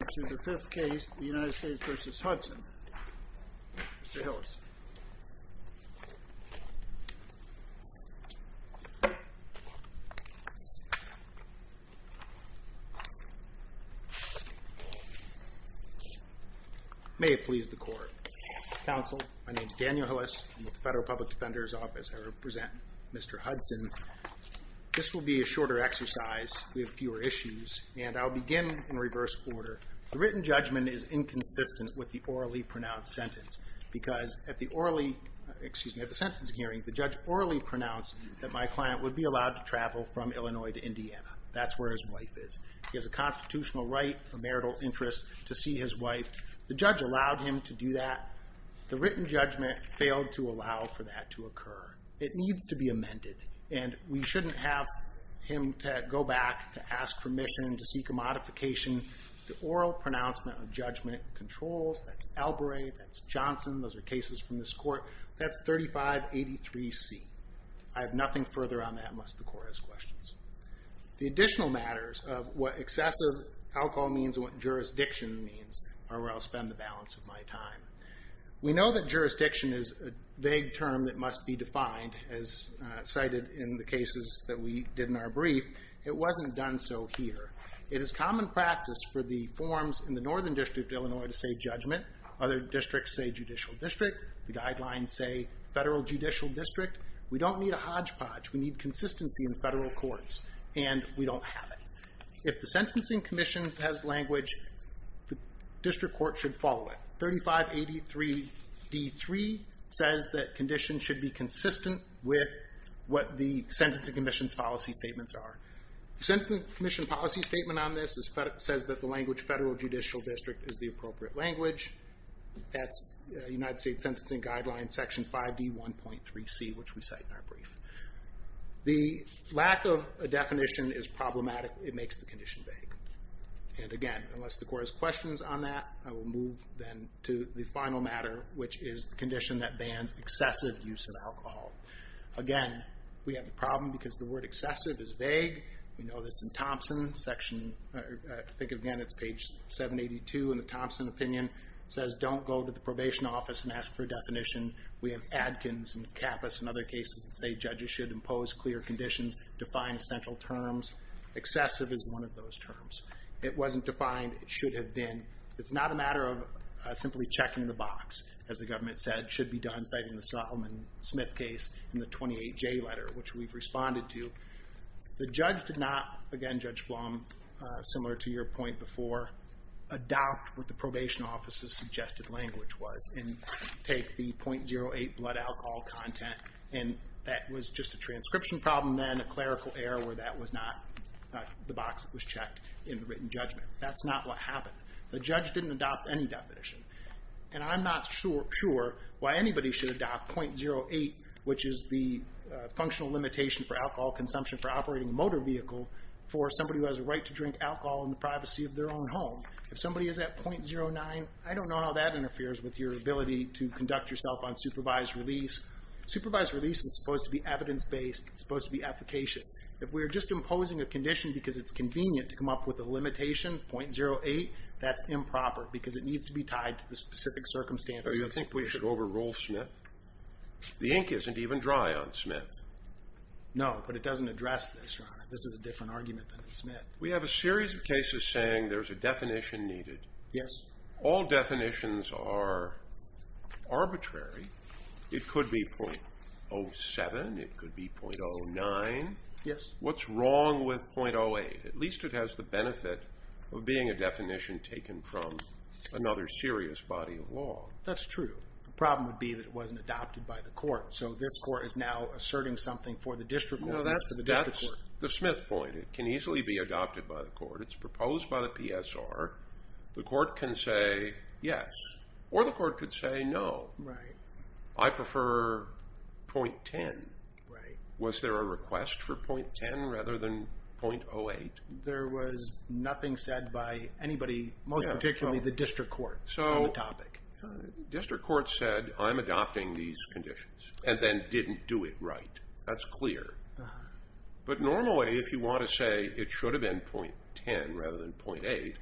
This is the fifth case, the United States v. Hudson. Mr. Hillis. May it please the court. Counsel, my name is Daniel Hillis. I'm with the Federal Public Defender's Office. I represent Mr. Hudson. This will be a shorter exercise. We have fewer issues. And I'll begin in reverse order. The written judgment is inconsistent with the orally pronounced sentence. Because at the sentence hearing, the judge orally pronounced that my client would be allowed to travel from Illinois to Indiana. That's where his wife is. He has a constitutional right, a marital interest, to see his wife. The judge allowed him to do that. The written judgment failed to allow for that to occur. It needs to be amended. And we shouldn't have him to go back to ask permission to seek a modification. The oral pronouncement of judgment controls. That's Elbrey. That's Johnson. Those are cases from this court. That's 3583C. I have nothing further on that unless the court has questions. The additional matters of what excessive alcohol means and what jurisdiction means are where I'll spend the balance of my time. We know that jurisdiction is a vague term that must be defined, as cited in the cases that we did in our brief. It wasn't done so here. It is common practice for the forms in the Northern District of Illinois to say judgment. Other districts say judicial district. The guidelines say federal judicial district. We don't need a hodgepodge. We need consistency in federal courts. And we don't have it. If the Sentencing Commission has language, the district court should follow it. 3583D3 says that conditions should be consistent with what the Sentencing Commission's policy statements are. The Sentencing Commission policy statement on this says that the language federal judicial district is the appropriate language. That's United States Sentencing Guidelines, Section 5D1.3C, which we cite in our brief. The lack of a definition is problematic. It makes the condition vague. And again, unless the court has questions on that, I will move then to the final matter, which is the condition that bans excessive use of alcohol. Again, we have a problem because the word excessive is vague. We know this in Thompson. Think again, it's page 782 in the Thompson opinion. It says don't go to the probation office and ask for a definition. We have Adkins and Kappas and other cases that say judges should impose clear conditions, define central terms. Excessive is one of those terms. It wasn't defined. It should have been. It's not a matter of simply checking the box, as the government said should be done, citing the Solomon Smith case in the 28J letter, which we've responded to. The judge did not, again, Judge Flom, similar to your point before, adopt what the probation office's suggested language was and take the .08 blood alcohol content. And that was just a transcription problem then, a clerical error where that was not the box that was checked in the written judgment. That's not what happened. The judge didn't adopt any definition. And I'm not sure why anybody should adopt .08, which is the functional limitation for alcohol consumption for operating a motor vehicle for somebody who has a right to drink alcohol in the privacy of their own home. If somebody is at .09, I don't know how that interferes with your ability to conduct yourself on supervised release. Supervised release is supposed to be evidence-based. It's supposed to be efficacious. If we're just imposing a condition because it's convenient to come up with a limitation, .08, that's improper because it needs to be tied to the specific circumstances. So you think we should overrule Smith? The ink isn't even dry on Smith. No, but it doesn't address this, Your Honor. This is a different argument than Smith. We have a series of cases saying there's a definition needed. Yes. All definitions are arbitrary. It could be .07. It could be .09. Yes. What's wrong with .08? At least it has the benefit of being a definition taken from another serious body of law. That's true. The problem would be that it wasn't adopted by the court. So this court is now asserting something for the district court. No, that's the Smith point. It can easily be adopted by the court. It's proposed by the PSR. The court can say yes, or the court could say no. Right. I prefer .10. Right. Was there a request for .10 rather than .08? There was nothing said by anybody, most particularly the district court, on the topic. District court said, I'm adopting these conditions, and then didn't do it right. That's clear. But normally, if you want to say it should have been .10 rather than .08,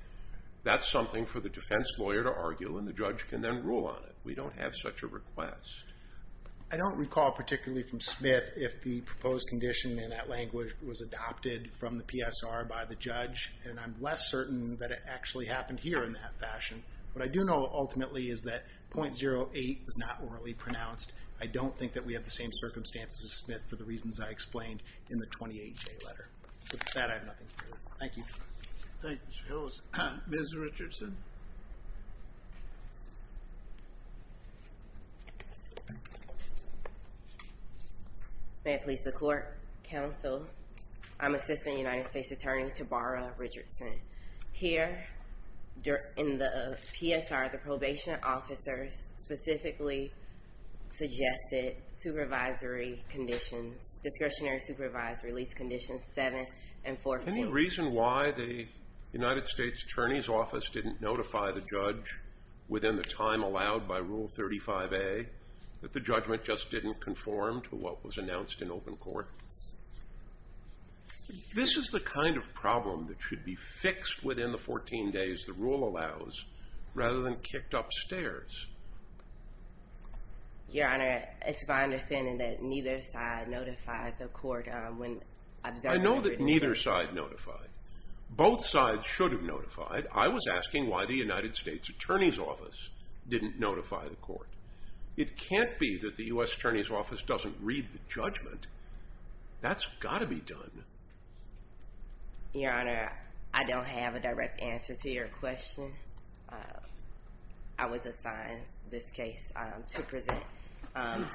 that's something for the defense lawyer to argue, and the judge can then rule on it. We don't have such a request. I don't recall particularly from Smith if the proposed condition in that language was adopted from the PSR by the judge, and I'm less certain that it actually happened here in that fashion. What I do know, ultimately, is that .08 was not orally pronounced. I don't think that we have the same circumstances as Smith for the reasons I explained in the 28-J letter. With that, I have nothing further. Thank you. Thank you, Mr. Hillis. Ms. Richardson? May it please the court, counsel, I'm Assistant United States Attorney Tabara Richardson. Here in the PSR, the probation officer specifically suggested supervisory conditions, discretionary supervisory lease conditions 7 and 14. Any reason why the United States Attorney's Office didn't notify the judge within the time allowed by Rule 35A, that the judgment just didn't conform to what was announced in open court? This is the kind of problem that should be fixed within the 14 days the rule allows rather than kicked upstairs. Your Honor, it's my understanding that neither side notified the court when observed. I know that neither side notified. Both sides should have notified. I was asking why the United States Attorney's Office didn't notify the court. It can't be that the U.S. Attorney's Office doesn't read the judgment. That's got to be done. Your Honor, I don't have a direct answer to your question. I was assigned this case to present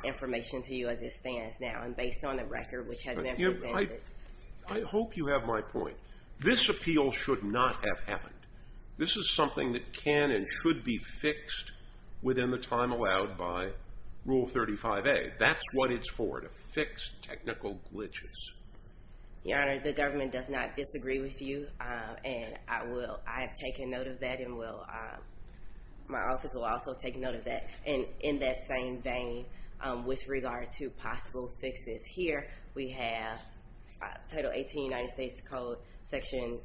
information to you as it stands now and based on the record which has been presented. I hope you have my point. This appeal should not have happened. This is something that can and should be fixed within the time allowed by Rule 35A. That's what it's for, to fix technical glitches. Your Honor, the government does not disagree with you. And I have taken note of that and my office will also take note of that. In that same vein, with regard to possible fixes, here we have Title 18 of the United States Code, Section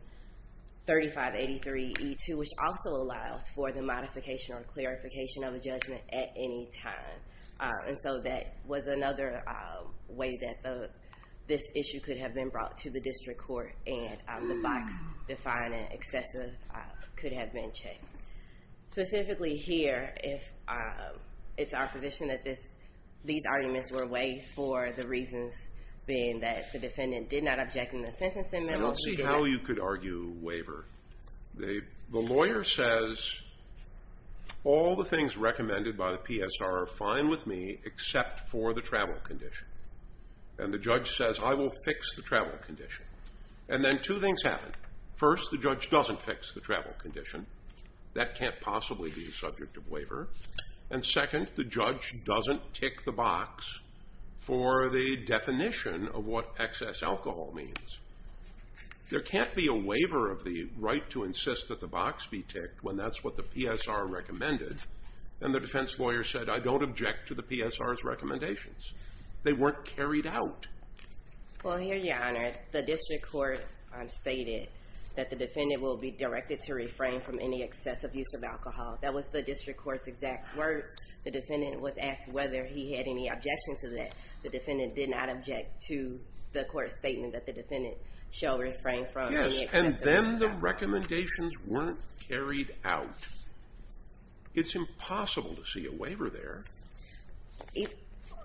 3583E2, which also allows for the modification or clarification of a judgment at any time. And so that was another way that this issue could have been brought to the district court and the box defined as excessive could have been checked. Specifically here, it's our position that these arguments were waived for the reasons being that the defendant did not object in the sentencing memo. I don't see how you could argue waiver. The lawyer says, all the things recommended by the PSR are fine with me except for the travel condition. And the judge says, I will fix the travel condition. And then two things happen. First, the judge doesn't fix the travel condition. That can't possibly be a subject of waiver. And second, the judge doesn't tick the box for the definition of what excess alcohol means. There can't be a waiver of the right to insist that the box be ticked when that's what the PSR recommended. And the defense lawyer said, I don't object to the PSR's recommendations. They weren't carried out. Well, here, Your Honor, the district court stated that the defendant will be directed to refrain from any excessive use of alcohol. That was the district court's exact words. The defendant was asked whether he had any objection to that. The defendant did not object to the court's statement that the defendant shall refrain from any excessive alcohol. Yes, and then the recommendations weren't carried out. It's impossible to see a waiver there.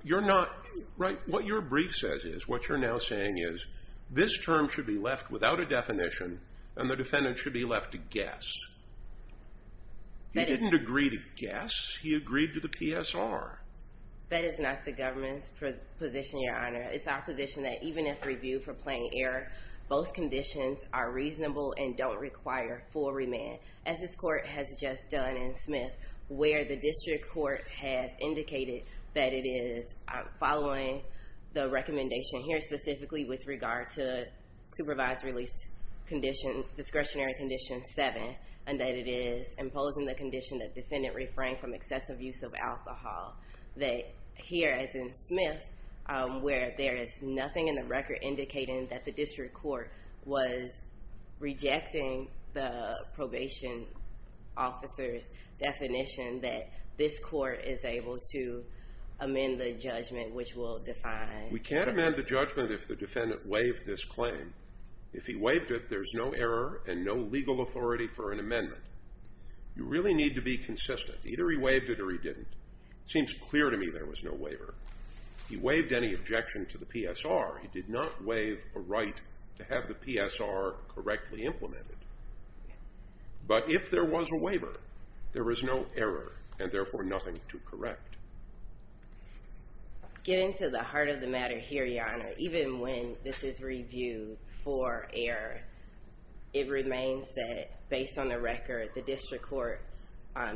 You're not right. What your brief says is, what you're now saying is, this term should be left without a definition, and the defendant should be left to guess. He didn't agree to guess. He agreed to the PSR. That is not the government's position, Your Honor. It's our position that even if reviewed for plain error, both conditions are reasonable and don't require full remand, as this court has just done in Smith, where the district court has indicated that it is following the recommendation here, specifically with regard to supervised release discretionary condition 7, and that it is imposing the condition that defendant refrain from excessive use of alcohol. That here, as in Smith, where there is nothing in the record indicating that the district court was rejecting the probation officer's definition, that this court is able to amend the judgment, which will define. We can't amend the judgment if the defendant waived this claim. If he waived it, there's no error and no legal authority for an amendment. You really need to be consistent. Either he waived it or he didn't. It seems clear to me there was no waiver. He waived any objection to the PSR. He did not waive a right to have the PSR correctly implemented. But if there was a waiver, there was no error and, therefore, nothing to correct. Getting to the heart of the matter here, Your Honor, even when this is reviewed for error, it remains that, based on the record, the district court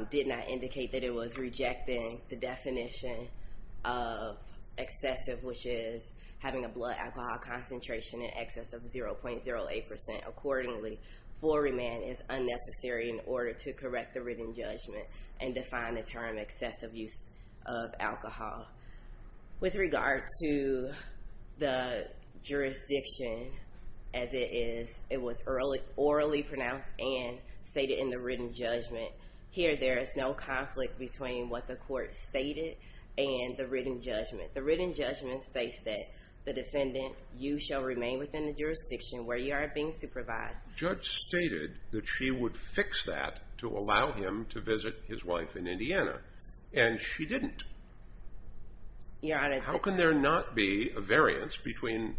did not indicate that it was rejecting the definition of excessive, which is having a blood alcohol concentration in excess of 0.08%. Accordingly, floor remand is unnecessary in order to correct the written judgment and define the term excessive use of alcohol. With regard to the jurisdiction as it is, it was orally pronounced and stated in the written judgment. Here there is no conflict between what the court stated and the written judgment. The written judgment states that the defendant, you shall remain within the jurisdiction where you are being supervised. The judge stated that she would fix that to allow him to visit his wife in Indiana, and she didn't. How can there not be a variance between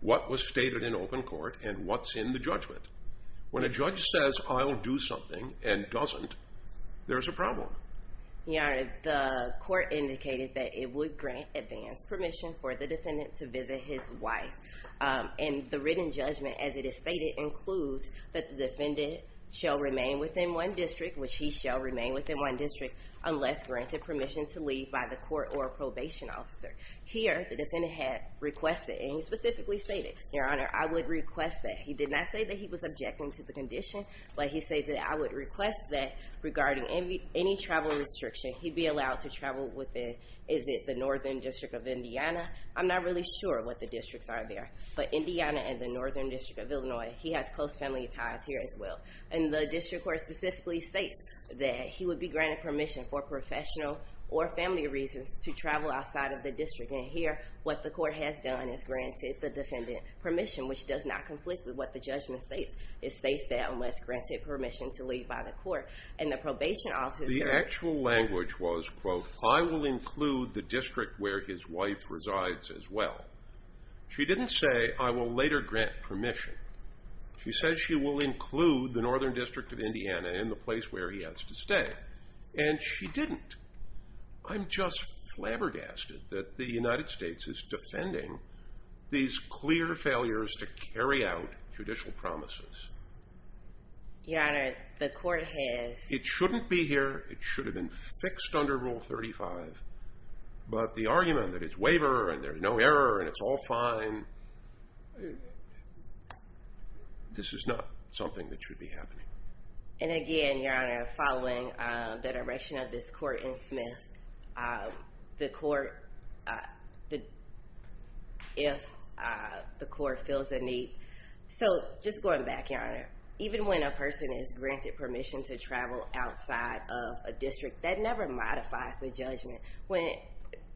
what was stated in open court and what's in the judgment? When a judge says, I'll do something and doesn't, there's a problem. Your Honor, the court indicated that it would grant advance permission for the defendant to visit his wife. And the written judgment, as it is stated, includes that the defendant shall remain within one district, which he shall remain within one district, unless granted permission to leave by the court or a probation officer. Here the defendant had requested, and he specifically stated, Your Honor, I would request that. He did not say that he was objecting to the condition, but he said that I would request that regarding any travel restriction, he be allowed to travel within, is it the northern district of Indiana? I'm not really sure what the districts are there, but Indiana and the northern district of Illinois, he has close family ties here as well. And the district court specifically states that he would be granted permission for professional or family reasons to travel outside of the district. And here what the court has done is granted the defendant permission, which does not conflict with what the judgment states. It states that unless granted permission to leave by the court. And the probation officer – The actual language was, quote, I will include the district where his wife resides as well. She didn't say, I will later grant permission. She says she will include the northern district of Indiana in the place where he has to stay. And she didn't. I'm just flabbergasted that the United States is defending these clear failures to carry out judicial promises. Your Honor, the court has – It shouldn't be here. It should have been fixed under Rule 35. But the argument that it's waiver, and there's no error, and it's all fine, this is not something that should be happening. And again, Your Honor, following the direction of this court in Smith, the court – if the court feels the need – So just going back, Your Honor, even when a person is granted permission to travel outside of a district, that never modifies the judgment.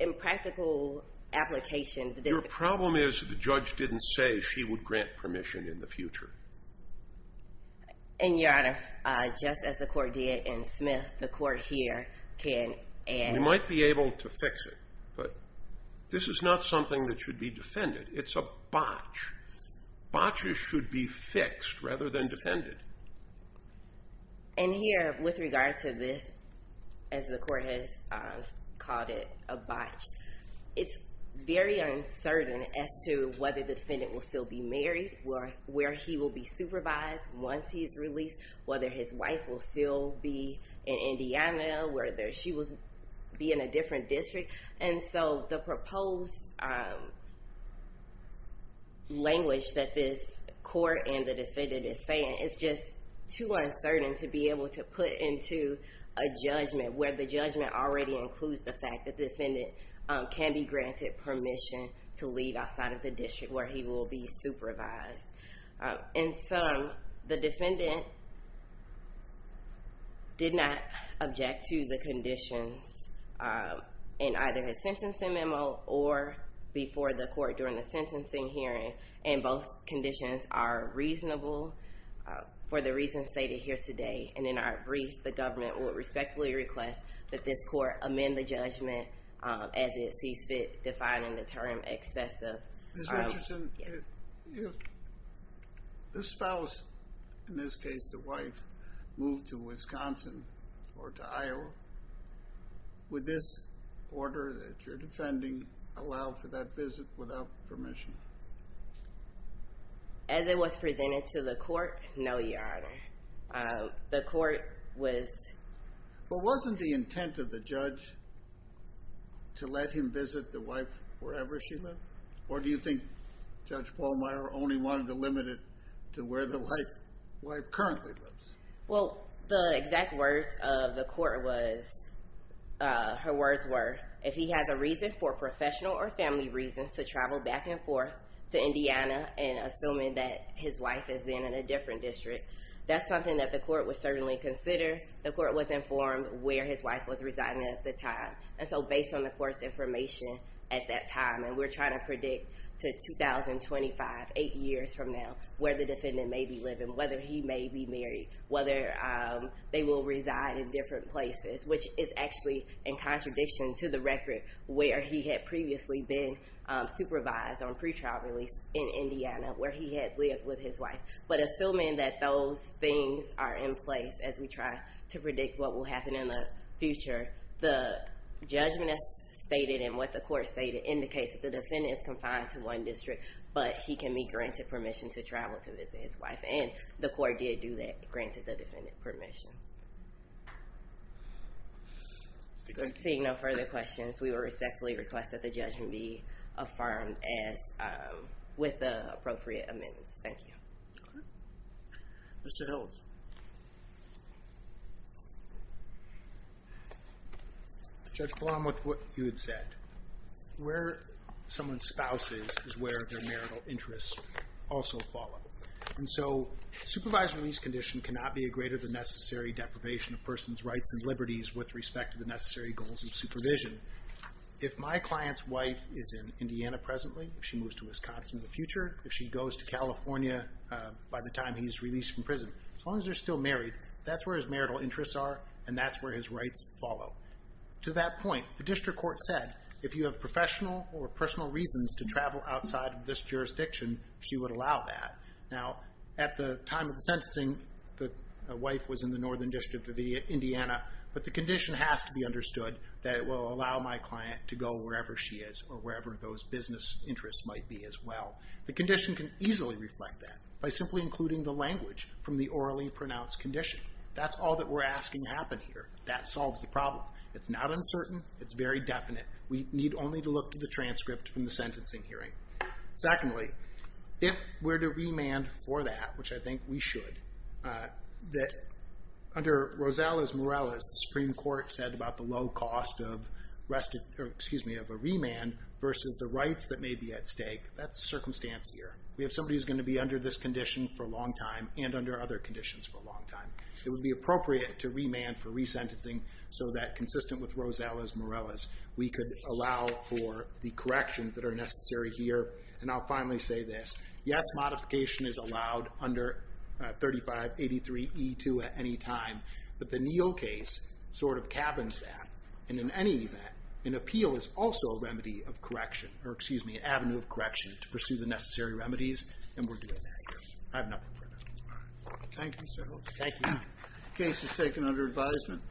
In practical application – Your problem is the judge didn't say she would grant permission in the future. And, Your Honor, just as the court did in Smith, the court here can – We might be able to fix it, but this is not something that should be defended. It's a botch. Botches should be fixed rather than defended. And here, with regard to this, as the court has called it a botch, it's very uncertain as to whether the defendant will still be married, where he will be supervised once he's released, whether his wife will still be in Indiana, whether she will be in a different district. And so the proposed language that this court and the defendant is saying is just too uncertain to be able to put into a judgment where the judgment already includes the fact that the defendant can be granted permission to leave outside of the district where he will be supervised. In sum, the defendant did not object to the conditions in either his sentencing memo or before the court during the sentencing hearing, and both conditions are reasonable for the reasons stated here today. And in our brief, the government will respectfully request that this court amend the judgment as it sees fit, defining the term excessive. Ms. Richardson, if the spouse, in this case the wife, moved to Wisconsin or to Iowa, would this order that you're defending allow for that visit without permission? As it was presented to the court, no, Your Honor. The court was... But wasn't the intent of the judge to let him visit the wife wherever she lived? Or do you think Judge Pallmeyer only wanted to limit it to where the wife currently lives? Well, the exact words of the court was, her words were, if he has a reason for professional or family reasons to travel back and forth to Indiana and assuming that his wife is then in a different district, that's something that the court would certainly consider. The court was informed where his wife was residing at the time. And so based on the court's information at that time, and we're trying to predict to 2025, eight years from now, where the defendant may be living, whether he may be married, whether they will reside in different places, which is actually in contradiction to the record where he had previously been supervised on pretrial release in Indiana where he had lived with his wife. But assuming that those things are in place as we try to predict what will happen in the future, the judgment as stated and what the court stated indicates that the defendant is confined to one district, but he can be granted permission to travel to visit his wife. And the court did do that, granted the defendant permission. Seeing no further questions, we will respectfully request that the judgment be affirmed with the appropriate amendments. Thank you. Okay. Mr. Hiltz. Judge Blum, with what you had said, where someone's spouse is, is where their marital interests also follow. And so supervised release condition cannot be a greater than necessary deprivation of a person's rights and liberties with respect to the necessary goals of supervision. If my client's wife is in Indiana presently, if she moves to Wisconsin in the future, if she goes to California by the time he's released from prison, as long as they're still married, that's where his marital interests are and that's where his rights follow. To that point, the district court said, if you have professional or personal reasons to travel outside of this jurisdiction, she would allow that. Now, at the time of the sentencing, the wife was in the northern district of Indiana, but the condition has to be understood that it will allow my client to go wherever she is or wherever those business interests might be as well. The condition can easily reflect that by simply including the language from the orally pronounced condition. That's all that we're asking happen here. That solves the problem. It's not uncertain. It's very definite. We need only to look to the transcript from the sentencing hearing. Secondly, if we're to remand for that, which I think we should, under Rosales-Morales, the Supreme Court said about the low cost of a remand versus the rights that may be at stake, that's circumstantial. We have somebody who's going to be under this condition for a long time and under other conditions for a long time. It would be appropriate to remand for resentencing so that, consistent with Rosales-Morales, we could allow for the corrections that are necessary here. And I'll finally say this. Yes, modification is allowed under 3583E2 at any time, but the Neal case sort of cabins that. And in any event, an appeal is also a remedy of correction, or excuse me, an avenue of correction to pursue the necessary remedies, and we're doing that here. I have nothing further. Thank you, sir. Thank you. The case is taken under advisement.